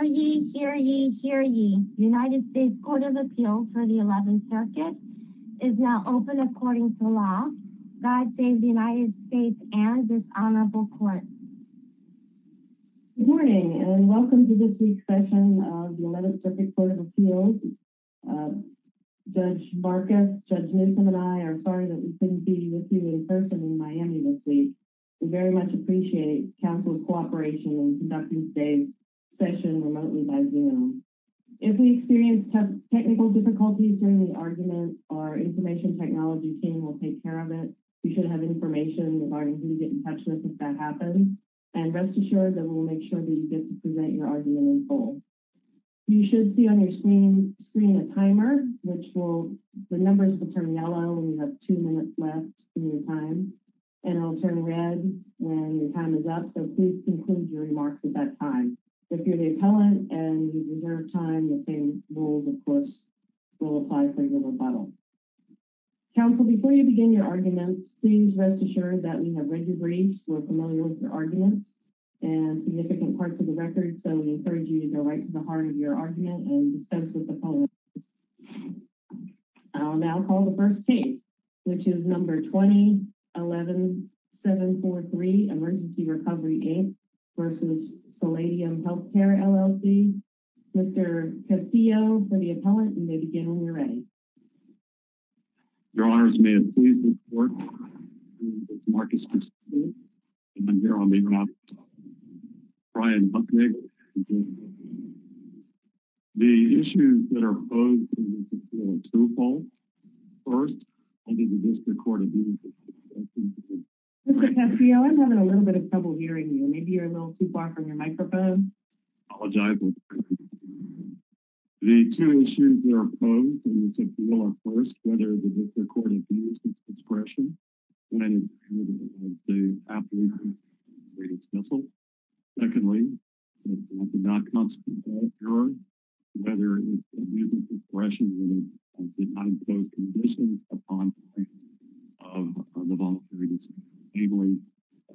Hear ye, hear ye, hear ye, United States Court of Appeals for the 11th Circuit is now open according to law. God save the United States and this Honorable Court. Good morning and welcome to this week's session of the 11th Circuit Court of Appeals. Judge Marcus, Judge Newsom, and I are sorry that we couldn't be with you in person in Miami this week. We very much appreciate Council's cooperation in conducting today's session remotely by Zoom. If we experience technical difficulties during the argument, our Information Technology team will take care of it. You should have information regarding who to get in touch with if that happens. And rest assured that we will make sure that you get to present your argument in full. You should see on your screen a timer, which will, the numbers will turn yellow when you have two minutes left in your time. And it will turn red when your time is up, so please conclude your remarks at that time. If you're the appellant and you deserve time, the same rules, of course, will apply for your rebuttal. Council, before you begin your arguments, please rest assured that we have read your briefs, we're familiar with your arguments, and significant parts of the record, so we encourage you to go right to the heart of your argument and discuss with the appellant. I'll now call the first case, which is number 20-11-743, Emergency Recovery Inc. v. Palladium Healthcare, LLC. Mr. Castillo, for the appellant, you may begin when you're ready. Your Honors, may it please the Court, my name is Marcus Castillo, and I'm here on behalf of Brian Bucknick. The issues that are posed in this appeal are twofold. First, under the District Court of Justice. Mr. Castillo, I'm having a little bit of trouble hearing you. Maybe you're a little too far from your microphone. Apologize. The two issues that are posed in this appeal are, first, whether the District Court has used this discretion when the application was made official. Secondly, whether the District Court has used this discretion when it did not impose conditions upon the plaintiffs of the voluntary dismissal, namely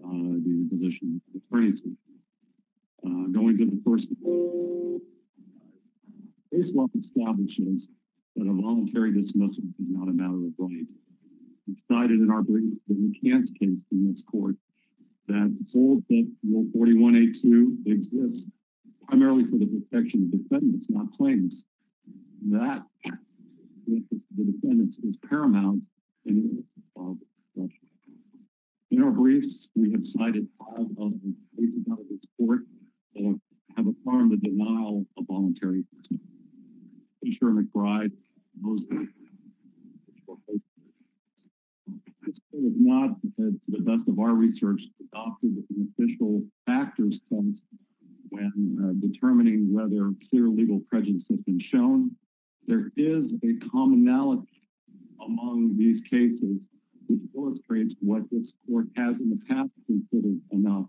the position of the plaintiffs. Going to the first case, the case law establishes that a voluntary dismissal is not a matter of right. We cited in our brief the McCants case in this Court that holds that Rule 41-A-2 exists primarily for the protection of defendants, not plaintiffs. That, in the case of the defendants, is paramount. In our briefs, we have cited five of the cases out of this Court that have affirmed the denial of voluntary dismissal. Mr. McBride, most of the cases have been shown. This Court has not, to the best of our research, adopted an official factors sense when determining whether clear legal prejudice has been shown. There is a commonality among these cases which illustrates what this Court has in the past considered enough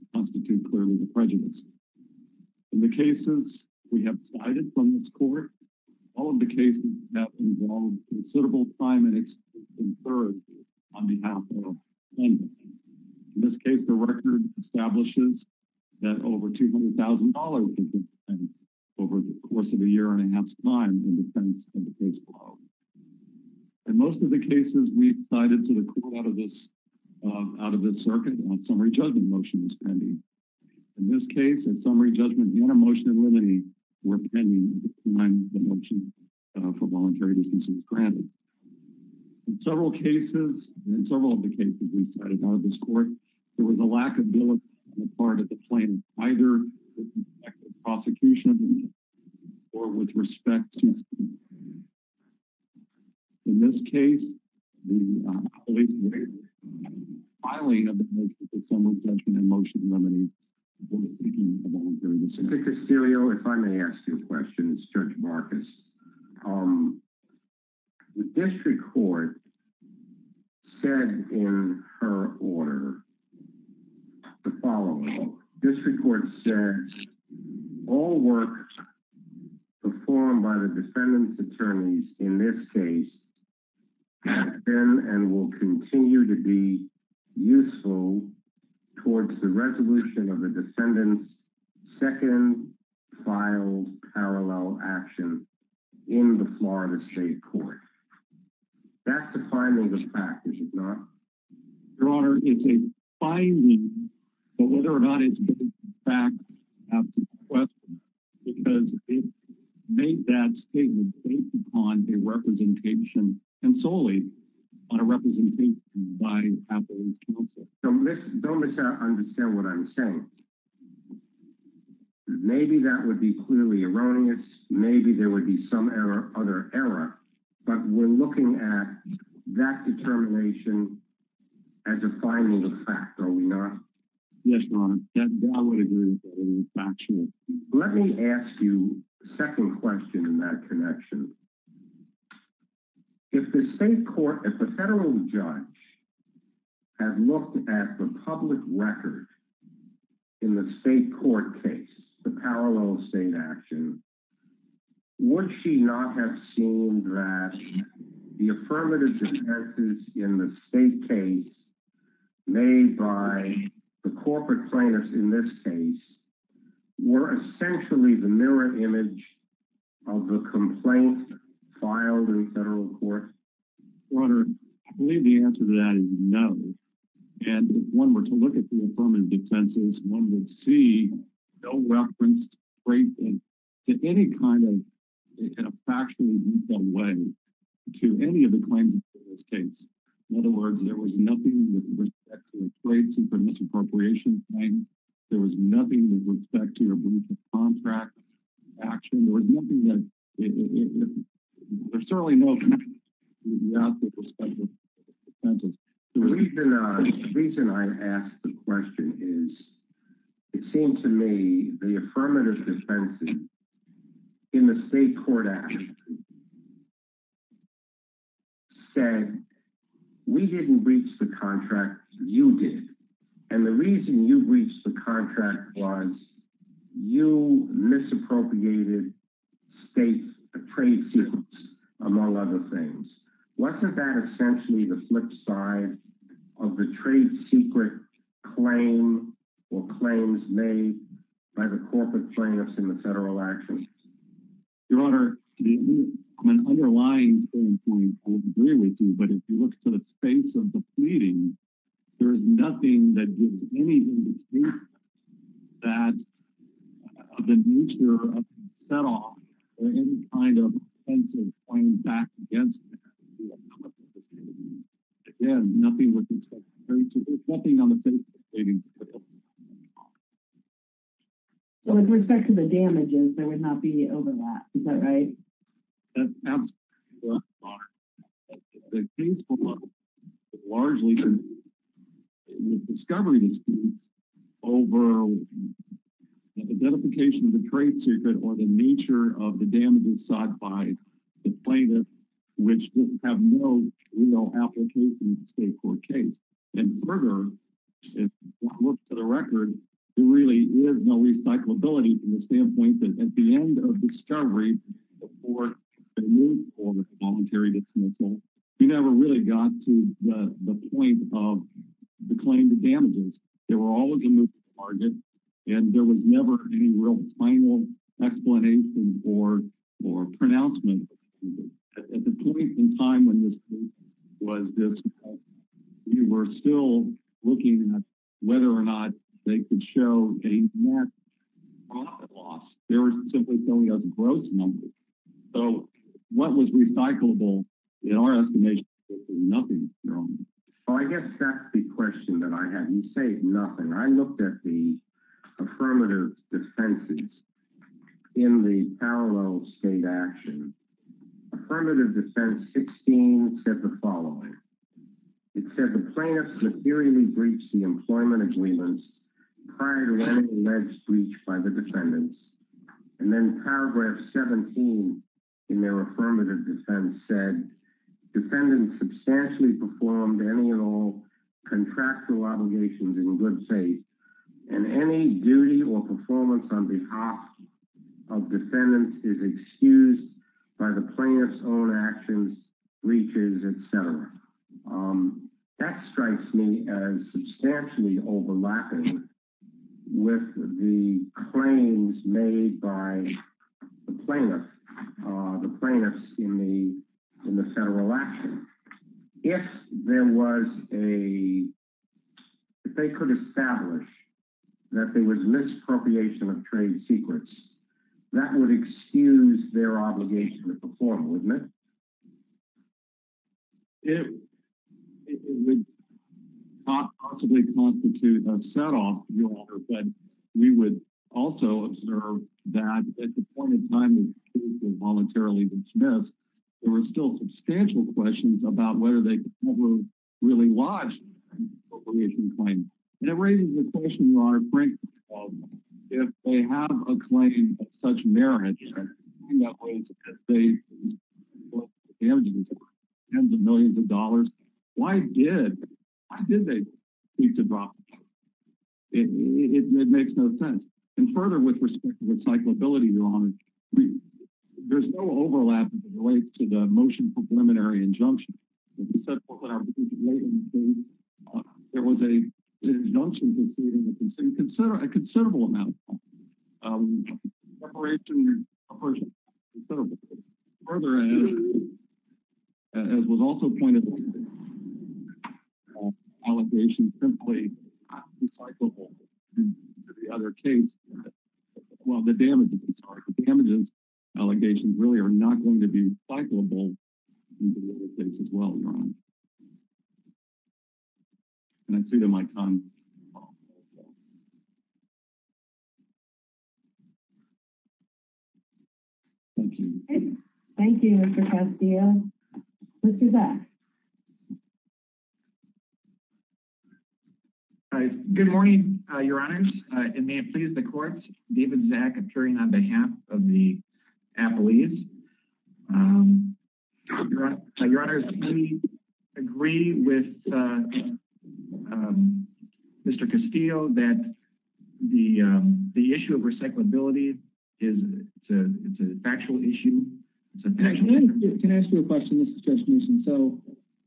to constitute clearly the prejudice. In the cases we have cited from this Court, all of the cases have involved considerable time and experience on behalf of defendants. In this case, the record establishes that over $200,000 was spent over the course of a year and a half's time in defense of the case below. In most of the cases we've cited to the Court out of this circuit, a summary judgment motion was pending. In this case, a summary judgment and a motion in limine were pending at the time the motion for voluntary dismissal was granted. In several of the cases we've cited out of this Court, there was a lack of ability on the part of the plaintiff either with respect to prosecution or with respect to the defendant. In this case, the police were filing a motion for summary judgment and a motion in limine for the seeking of a voluntary dismissal. Mr. Castillo, if I may ask you a question, it's Judge Marcus. The District Court said in her order the following. The District Court said all work performed by the defendant's attorneys in this case has been and will continue to be useful towards the resolution of the defendant's second filed parallel action in the Florida State Court. That's the finding of the package, is it not? Your Honor, it's a finding, but whether or not it's given back is an absolute question because it made that statement based upon a representation and solely on a representation by a police counsel. Don't misunderstand what I'm saying. Maybe that would be clearly erroneous. Maybe there would be some other error, but we're looking at that determination as a final fact, are we not? Yes, Your Honor. Let me ask you a second question in that connection. If the federal judge had looked at the public record in the state court case, the parallel state action, would she not have seen that the affirmative defenses in the state case made by the corporate plaintiffs in this case were essentially the mirror image of the complaint filed in the federal court? Your Honor, I believe the answer to that is no. And if one were to look at the affirmative defenses, one would see no reference to any kind of factually detailed way to any of the claims in this case. In other words, there was nothing with respect to the plates and the misappropriation claim. There was nothing with respect to your brief of contract action. There's certainly no connection. The reason I ask the question is, it seems to me the affirmative defenses in the state court action said, we didn't breach the contract, you did. And the reason you breached the contract was you misappropriated state trade secrets, among other things. Wasn't that essentially the flip side of the trade secret claim or claims made by the corporate plaintiffs in the federal actions? Your Honor, on an underlying standpoint, I would agree with you. But if you look to the face of the pleading, there's nothing that gives any indication of the nature of the set off or any kind of offensive point back against that. Again, nothing with respect to the case. There's nothing on the face of the pleading. So with respect to the damages, there would not be overlap, is that right? That's absolutely correct, Your Honor. The case below largely is a discovery dispute over identification of the trade secret or the nature of the damages sought by the plaintiffs, which have no real application to the state court case. And further, if you want to look to the record, there really is no recyclability from the standpoint that at the end of discovery, before the use of the voluntary dismissal, you never really got to the point of the claim to damages. There were always a new target, and there was never any real final explanation or pronouncement. At the point in time when this case was dismissed, we were still looking at whether or not they could show a net profit loss. They were simply telling us gross numbers. So what was recyclable, in our estimation, was nothing, Your Honor. Well, I guess that's the question that I had. You say nothing. I looked at the affirmative defenses in the parallel state action. Affirmative defense 16 said the following. It said the plaintiffs materially breached the employment agreements prior to any alleged breach by the defendants. And then paragraph 17 in their affirmative defense said defendants substantially performed any and all contractual obligations in good faith. And any duty or performance on behalf of defendants is excused by the plaintiff's own actions, breaches, etc. That strikes me as substantially overlapping with the claims made by the plaintiffs in the federal action. If there was a—if they could establish that there was misappropriation of trade secrets, that would excuse their obligation to perform, wouldn't it? It would not possibly constitute a setoff, Your Honor, but we would also observe that at the point in time the case was voluntarily dismissed, there were still substantial questions about whether they were really lodged an appropriation claim. And it raises the question, Your Honor, frankly, if they have a claim of such merit, and that was that they were damaging tens of millions of dollars, why did they seek to drop the case? It makes no sense. And further, with respect to recyclability, Your Honor, there's no overlap as it relates to the motion for preliminary injunction. As you said, Court Lady, there was an injunction proceeding that consumed a considerable amount of time. Preparation was considerable. Further, as was also pointed out, allegations simply are not recyclable. The other case—well, the damages, I'm sorry. The damages allegations really are not going to be recyclable in the case as well, Your Honor. And I see that my time is up. Thank you. Thank you, Mr. Castillo. Mr. Zaks. Good morning, Your Honors. And may it please the courts, David Zaks appearing on behalf of the appellees. Your Honors, we agree with Mr. Castillo that the issue of recyclability is a factual issue. Can I ask you a question? This is Judge Newsom. So,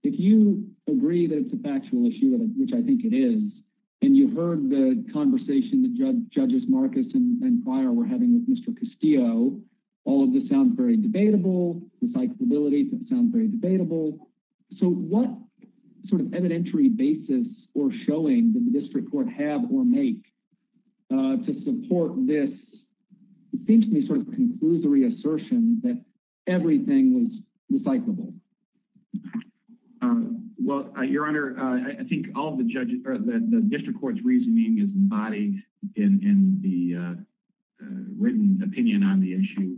if you agree that it's a factual issue, which I think it is, and you've heard the conversation that Judges Marcus and Pryor were having with Mr. Castillo, all of this sounds very debatable. Recyclability sounds very debatable. So, what sort of evidentiary basis or showing did the district court have or make to support this, it seems to me, sort of conclusory assertion that everything was recyclable? Well, Your Honor, I think all of the district court's reasoning is embodied in the written opinion on the issue.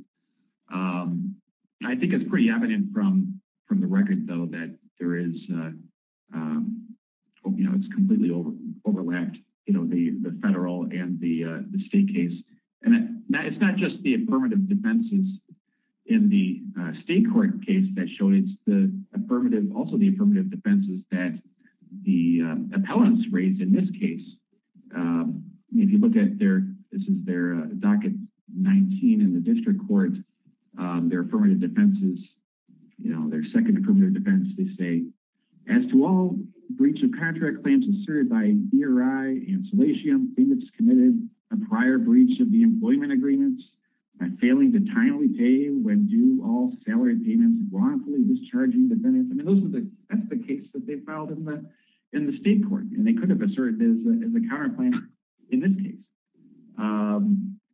I think it's pretty evident from the record, though, that there is, you know, it's completely overlapped, you know, the federal and the state case. And it's not just the affirmative defenses in the state court case that showed it's the affirmative, also the affirmative defenses that the appellants raised in this case. I mean, if you look at their, this is their docket 19 in the district court, their affirmative defenses, you know, their second affirmative defense, they say, As to all breach of contract claims asserted by ERI and Salatium, payments committed a prior breach of the employment agreements, by failing to timely pay when due, all salary payments wrongfully discharging the benefits. I mean, those are the, that's the case that they filed in the state court. And they could have asserted it as a counter plan in this case.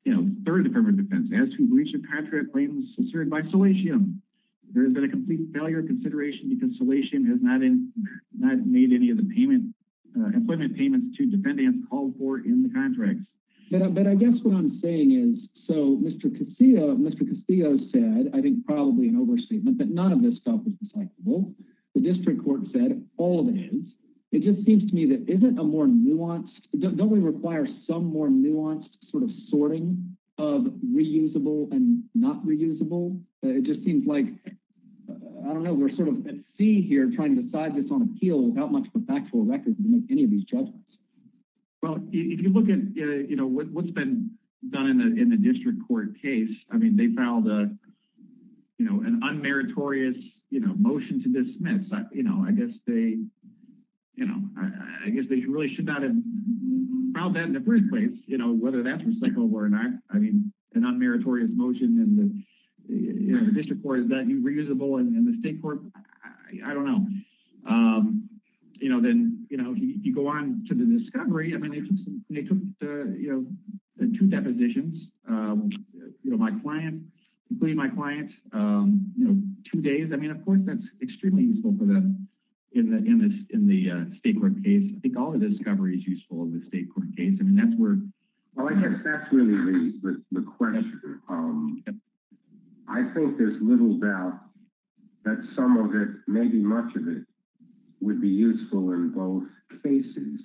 You know, third affirmative defense, as to breach of contract claims asserted by Salatium, there has been a complete failure of consideration because Salatium has not made any of the payment, employment payments to defendants called for in the contracts. But I guess what I'm saying is, so Mr. Casillo, Mr. Casillo said, I think probably an overstatement, but none of this stuff is recyclable. The district court said all of it is. It just seems to me that isn't a more nuanced, don't we require some more nuanced sort of sorting of reusable and not reusable? It just seems like, I don't know, we're sort of at sea here trying to decide this on appeal without much of a factual record to make any of these judgments. Well, if you look at what's been done in the district court case, I mean, they filed an unmeritorious motion to dismiss. I guess they really should not have filed that in the first place, whether that's recyclable or not. I mean, an unmeritorious motion in the district court, is that reusable in the state court? I don't know. You know, then, you know, if you go on to the discovery, I mean, they took, you know, two depositions. You know, my client, including my client, you know, two days. I mean, of course, that's extremely useful for them in the state court case. I think all the discovery is useful in the state court case. I mean, that's where. Oh, I guess that's really the question. I think there's little doubt that some of it, maybe much of it would be useful in both cases.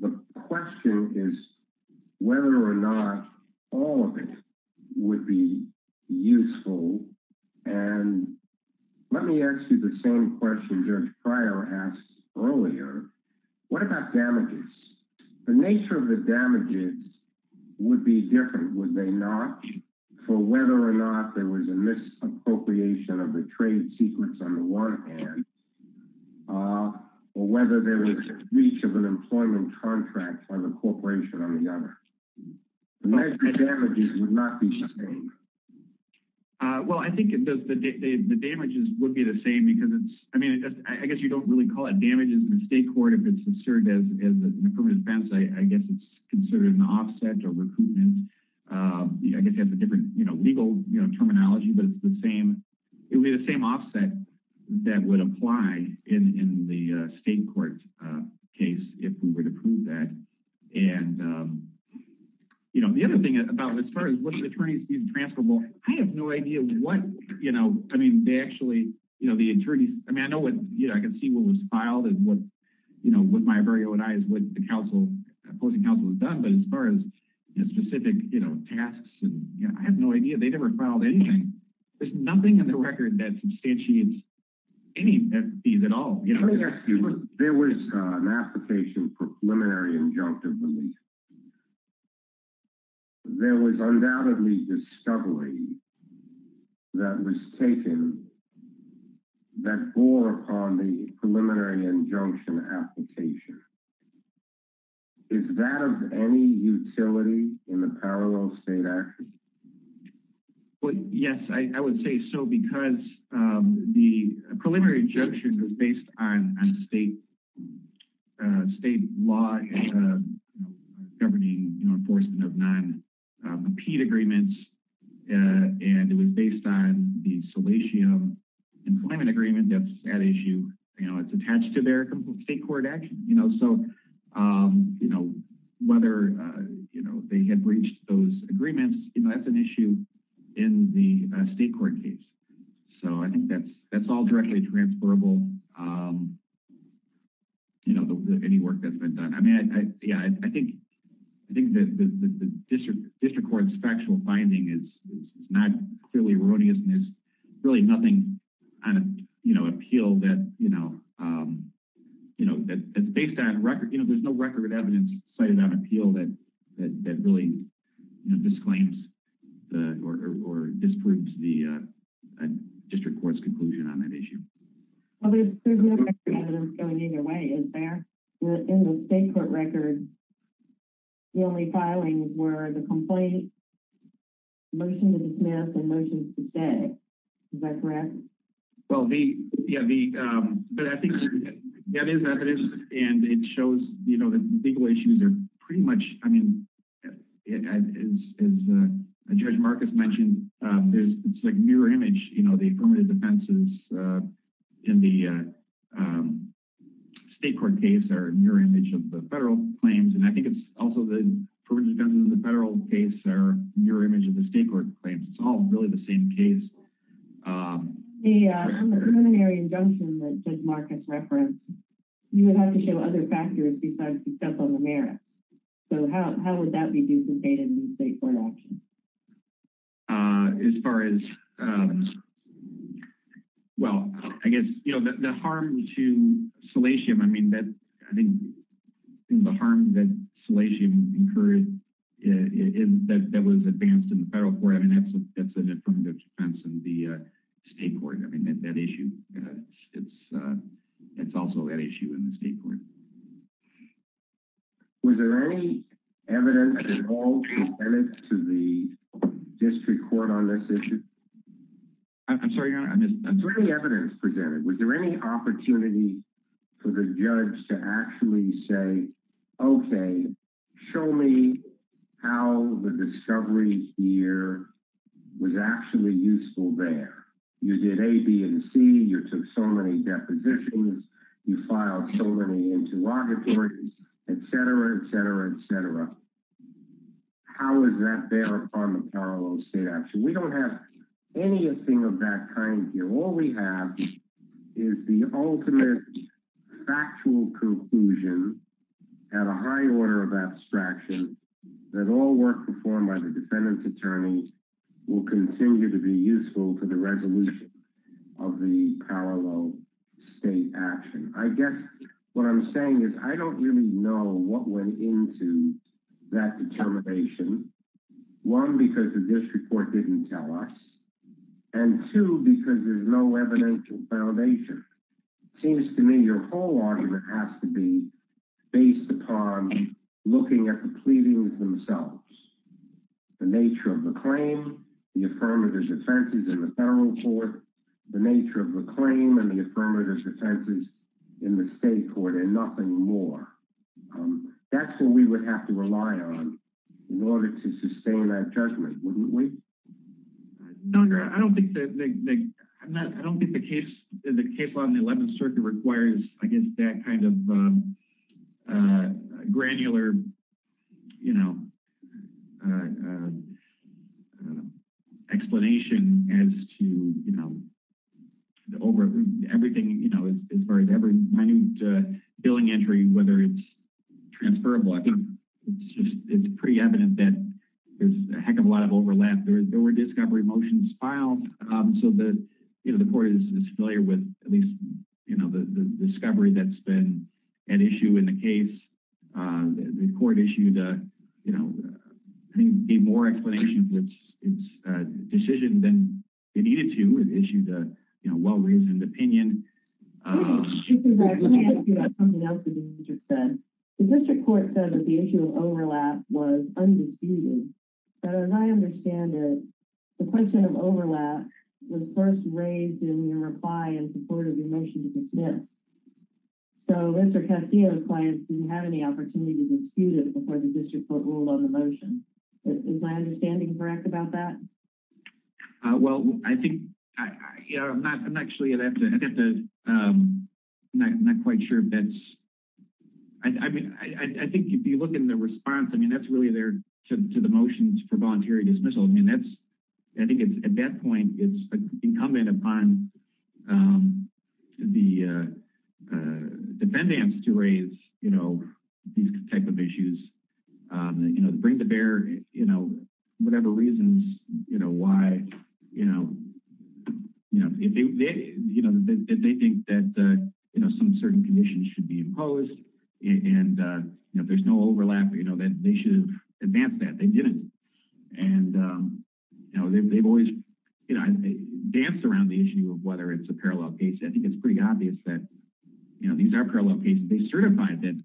The question is whether or not all of it would be useful. And let me ask you the same question. Judge Prior asked earlier, what about damages? The nature of the damages would be different, would they not? For whether or not there was a misappropriation of the trade secrets on the one hand, or whether there was a breach of an employment contract by the corporation on the other. The nature of the damages would not be the same. Well, I think the damages would be the same. I mean, I guess you don't really call it damages in the state court if it's considered as an affirmative defense. I guess it's considered an offset or recruitment. I guess it has a different legal terminology, but it's the same. It would be the same offset that would apply in the state court case if we were to prove that. The other thing about it, as far as what's the attorney's fees transferable, I have no idea what – I mean, they actually – I mean, I can see what was filed and with my very own eyes what the opposing counsel has done, but as far as specific tasks, I have no idea. They never filed anything. There's nothing in the record that substantiates any fees at all. Let me ask you, there was an application for preliminary injunctive release. There was undoubtedly discovery that was taken that bore upon the preliminary injunction application. Is that of any utility in the parallel state action? Yes, I would say so because the preliminary injunction was based on state law governing enforcement of non-compete agreements, and it was based on the Salatium Employment Agreement that's at issue. It's attached to their state court action. So whether they had breached those agreements, that's an issue in the state court case. So I think that's all directly transferable, any work that's been done. I mean, yeah, I think the district court's factual finding is not clearly erroneous, and there's really nothing on appeal that's based on record. There's no record of evidence cited on appeal that really disclaims or disproves the district court's conclusion on that issue. Well, there's no record of evidence going either way, is there? In the state court record, the only filings were the complaint, motion to dismiss, and motion to stay. Is that correct? Well, yeah, but I think that is evidence, and it shows that legal issues are pretty much, I mean, as Judge Marcus mentioned, it's like mirror image, you know, the affirmative defenses in the state court case are mirror image of the federal claims, and I think it's also the affirmative defenses in the federal case are mirror image of the state court claims. It's all really the same case. In the preliminary injunction that Judge Marcus referenced, you would have to show other factors besides successful merit. So how would that be duplicated in the state court action? As far as, well, I guess, you know, the harm to Salatium, I mean, I think the harm that Salatium incurred that was advanced in the federal court, I mean, that's an affirmative defense in the state court. I mean, that issue, it's also an issue in the state court. Was there any evidence at all presented to the district court on this issue? I'm sorry, Your Honor. Was there any evidence presented? Was there any opportunity for the judge to actually say, okay, show me how the discovery here was actually useful there? You did A, B, and C. You took so many depositions. You filed so many interrogatories, et cetera, et cetera, et cetera. How is that there on the parallel state action? We don't have anything of that kind here. All we have is the ultimate factual conclusion at a high order of abstraction that all work performed by the defendant's attorney will continue to be useful to the resolution of the parallel state action. I guess what I'm saying is I don't really know what went into that determination, one, because the district court didn't tell us, and two, because there's no evidential foundation. It seems to me your whole argument has to be based upon looking at the pleadings themselves, the nature of the claim, the affirmative defenses in the federal court, the nature of the claim and the affirmative defenses in the state court, and nothing more. That's what we would have to rely on in order to sustain that judgment, wouldn't we? No, Your Honor. I don't think the case law in the 11th Circuit requires, I guess, that kind of granular explanation as to everything as far as every minute billing entry, whether it's transferable. It's pretty evident that there's a heck of a lot of overlap. There were discovery motions filed, so the court is familiar with at least the discovery that's been an issue in the case. The court issued a more explanation of its decision than it needed to. It issued a well-reasoned opinion. Let me ask you about something else that you just said. The district court said that the issue of overlap was undisputed, but as I understand it, the question of overlap was first raised in your reply in support of your motion to dismiss. So Mr. Castillo's client didn't have any opportunity to dispute it before the district court ruled on the motion. Is my understanding correct about that? Well, I think, Your Honor, I'm actually not quite sure. I think if you look in the response, I mean, that's really there to the motions for voluntary dismissal. I mean, I think at that point it's incumbent upon the defendants to raise these type of issues, bring to bear whatever reasons why they think that some certain conditions should be imposed, and if there's no overlap, then they should have advanced that. They didn't, and they've always danced around the issue of whether it's a parallel case. I think it's pretty obvious that these are parallel cases. They certified it.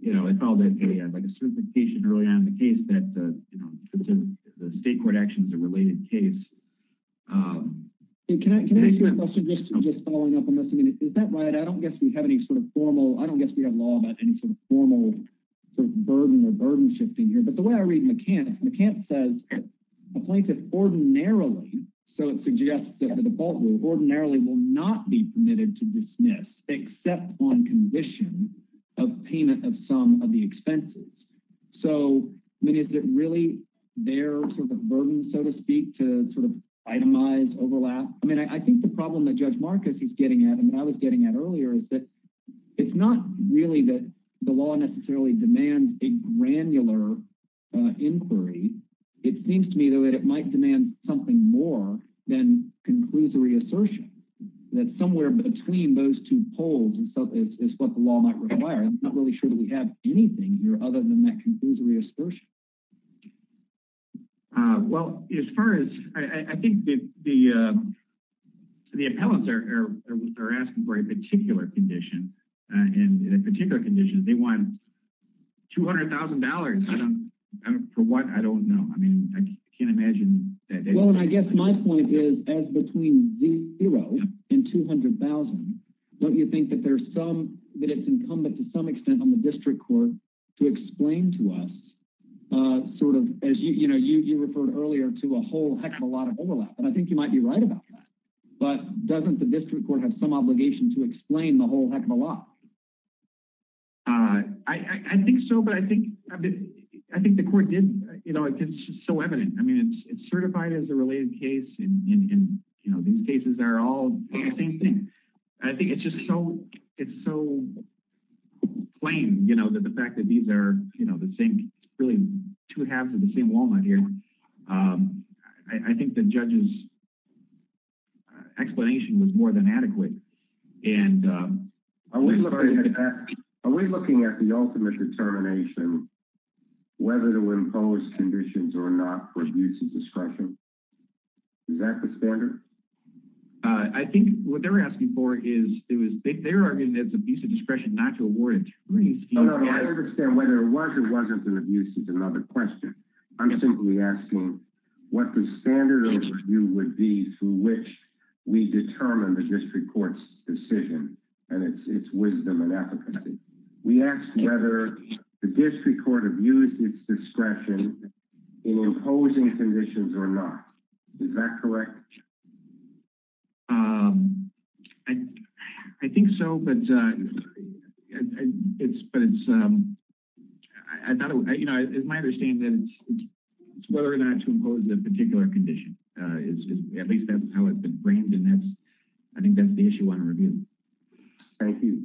They called it a certification early on in the case that the state court action is a related case. Can I ask you a question just following up on this? Is that right? I don't guess we have any sort of formal – I don't guess we have law about any sort of formal sort of burden or burden shifting here, but the way I read McCants, McCants says, a plaintiff ordinarily, so it suggests that the default rule, ordinarily will not be permitted to dismiss except on condition of payment of some of the expenses. So, I mean, is it really their sort of burden, so to speak, to sort of itemize, overlap? I mean, I think the problem that Judge Marcus is getting at and I was getting at earlier is that it's not really that the law necessarily demands a granular inquiry. It seems to me, though, that it might demand something more than conclusory assertion, that somewhere between those two poles is what the law might require. I'm not really sure that we have anything here other than that conclusory assertion. Well, as far as – I think the appellants are asking for a particular condition, and in a particular condition they want $200,000. For what, I don't know. I mean, I can't imagine that they – Well, and I guess my point is as between zero and $200,000, don't you think that there's some – that it's incumbent to some extent on the district court to explain to us sort of, as you referred earlier, to a whole heck of a lot of overlap? And I think you might be right about that. But doesn't the district court have some obligation to explain the whole heck of a lot? I think so, but I think the court did – it's just so evident. I mean, it's certified as a related case, and these cases are all the same thing. I think it's just so – it's so plain that the fact that these are the same – really two halves of the same walnut here. I think the judge's explanation was more than adequate. Are we looking at the ultimate determination whether to impose conditions or not for abuse of discretion? Is that the standard? I think what they were asking for is – they were arguing that it's abuse of discretion not to award injuries. I don't understand whether it was or wasn't an abuse is another question. I'm simply asking what the standard of review would be through which we determine the district court's decision and its wisdom and efficacy. We asked whether the district court abused its discretion in imposing conditions or not. Is that correct? I think so, but it's – it's my understanding that it's whether or not to impose a particular condition. At least that's how it's been framed, and I think that's the issue I want to review. Thank you.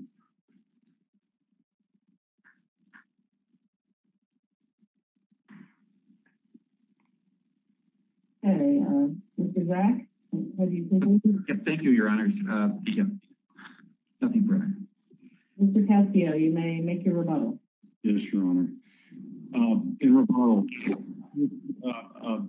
Thank you. Okay. Mr. Wrack, have you – Thank you, Your Honors. Nothing further. Mr. Cascio, you may make your rebuttal. Yes, Your Honor. In rebuttal, I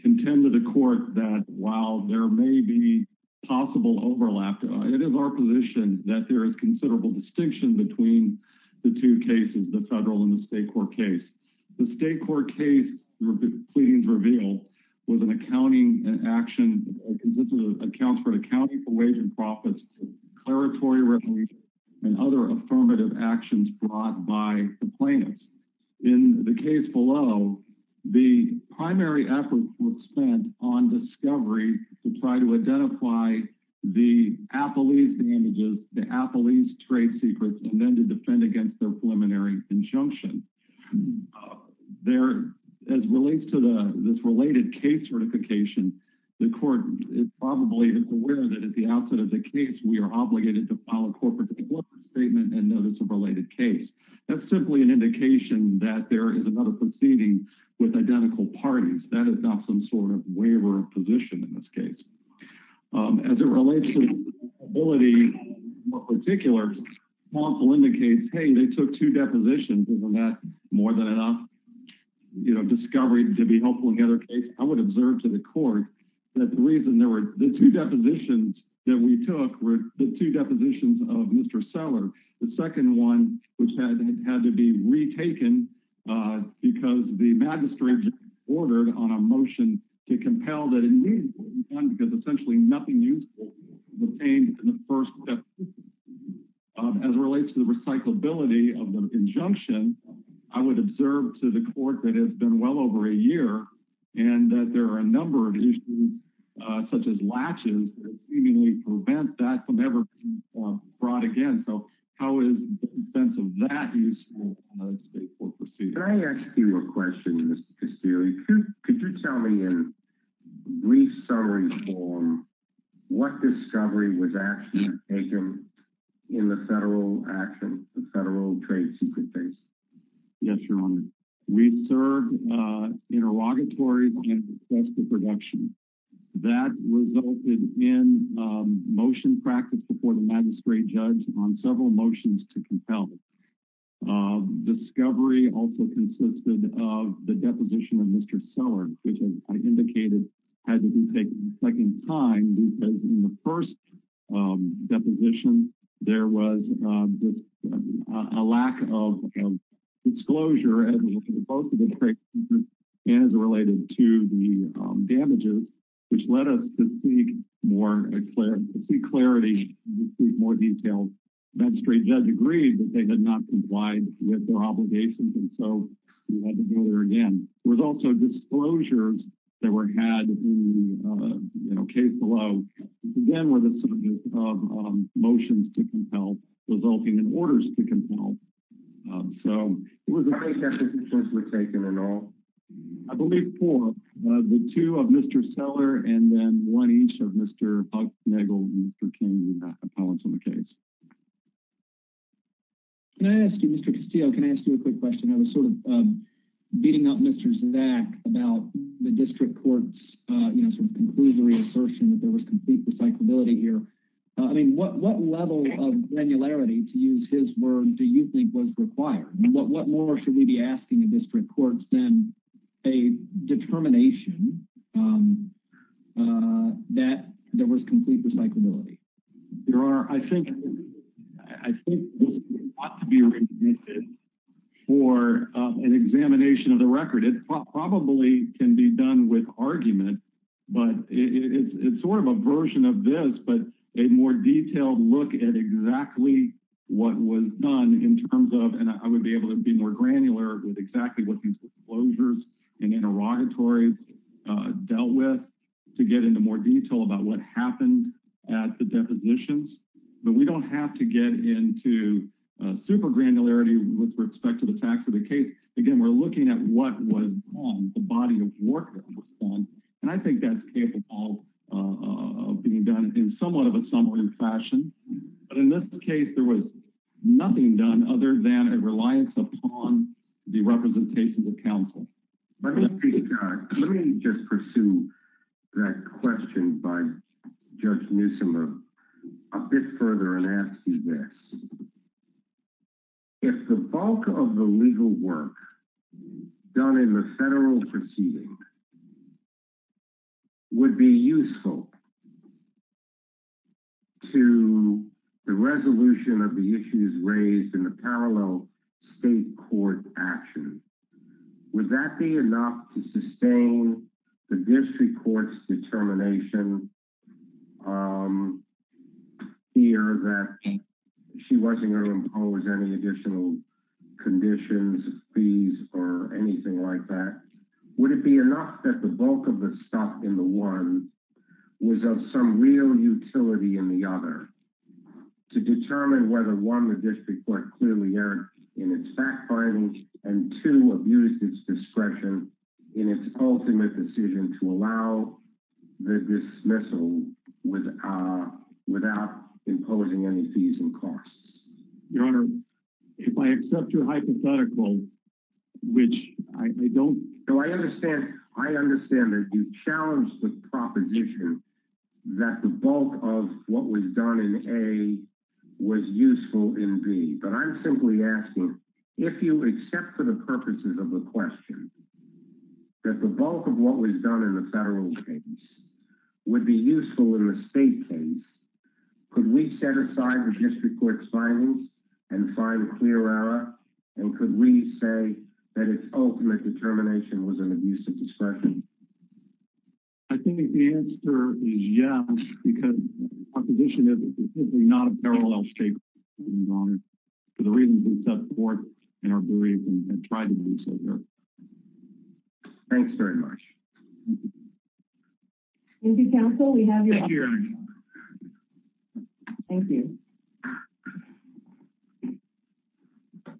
contend to the court that while there may be possible overlap, it is our position that there is considerable distinction between the two cases, the federal and the state court case. The state court case pleadings revealed was an accounting action that consisted of accounts for accounting for wage and profits, declaratory revenue, and other affirmative actions brought by the plaintiffs. In the case below, the primary effort was spent on discovery to try to identify the appellee's damages, the appellee's trade secrets, and then to defend against their preliminary injunction. As relates to this related case certification, the court is probably aware that at the outset of the case, we are obligated to file a corporate statement and notice of related case. That's simply an indication that there is another proceeding with identical parties. That is not some sort of waiver of position in this case. As it relates to this ability in particular, counsel indicates, hey, they took two depositions. Isn't that more than enough, you know, discovery to be helpful in the other case? I would observe to the court that the reason there were – the two depositions that we took were the two depositions of Mr. Seller, the second one which had to be retaken because the magistrate ordered on a motion to compel that it need be done because essentially nothing useful was obtained in the first step. As it relates to the recyclability of the injunction, I would observe to the court that it has been well over a year and that there are a number of issues such as latches that seemingly prevent that from ever being brought again. So how is the sense of that useful in other state court proceedings? Can I ask you a question, Mr. Castillo? Could you tell me in brief summary form what discovery was actually taken in the federal action, the federal trade secret case? Yes, Your Honor. We served interrogatories and requested production. That resulted in motion practiced before the magistrate judge on several motions to compel. Discovery also consisted of the deposition of Mr. Seller, which I indicated had to be taken a second time because in the first deposition, there was a lack of disclosure as related to the damages, which led us to seek clarity and seek more details. The magistrate judge agreed that they had not complied with their obligations, and so we had to do it again. There were also disclosures that were had in the case below. Again, were the motions to compel resulting in orders to compel. How many cases were taken in all? I believe four. The two of Mr. Seller and then one each of Mr. Hucknagle and Mr. King, were not compelled to the case. Can I ask you, Mr. Castillo, can I ask you a quick question? I was sort of beating up Mr. Zak about the district court's, you know, sort of conclusory assertion that there was complete recyclability here. I mean, what level of granularity, to use his word, do you think was required? What more should we be asking the district courts than a determination that there was complete recyclability? There are, I think, I think this ought to be remitted for an examination of the record. It probably can be done with argument, but it's sort of a version of this, but a more detailed look at exactly what was done in terms of, and I would be able to be more granular with exactly what these disclosures and interrogatories dealt with, to get into more detail about what happened at the depositions. But we don't have to get into super granularity with respect to the facts of the case. Again, we're looking at what was done, the body of work that was done, and I think that's capable of being done in somewhat of a summary fashion. But in this case, there was nothing done other than a reliance upon the representations of counsel. Let me just pursue that question by Judge Nisimer a bit further and ask you this. If the bulk of the legal work done in the federal proceeding would be useful to the resolution of the issues raised in the parallel state court action, would that be enough to sustain the district court's determination here that she wasn't going to impose any additional conditions, fees, or anything like that? Would it be enough that the bulk of the stuff in the one was of some real utility in the other to determine whether one, the district court clearly erred in its fact finding and two, abused its discretion in its ultimate decision to allow the dismissal without imposing any fees and costs? Your Honor, if I accept your hypothetical, which I don't. No, I understand. I understand that you challenged the proposition that the bulk of what was done in A was useful in B, but I'm simply asking if you accept for the purposes of the question that the bulk of what was done in the federal case would be useful in the state case. Could we set aside the district court's findings and find a clear error? And could we say that its ultimate determination was an abuse of discretion? I think the answer is yes, because our position is simply not a parallel state for the reasons we described. Thank you very much. Thank you counsel. We have your opinion. Thank you. Thank you.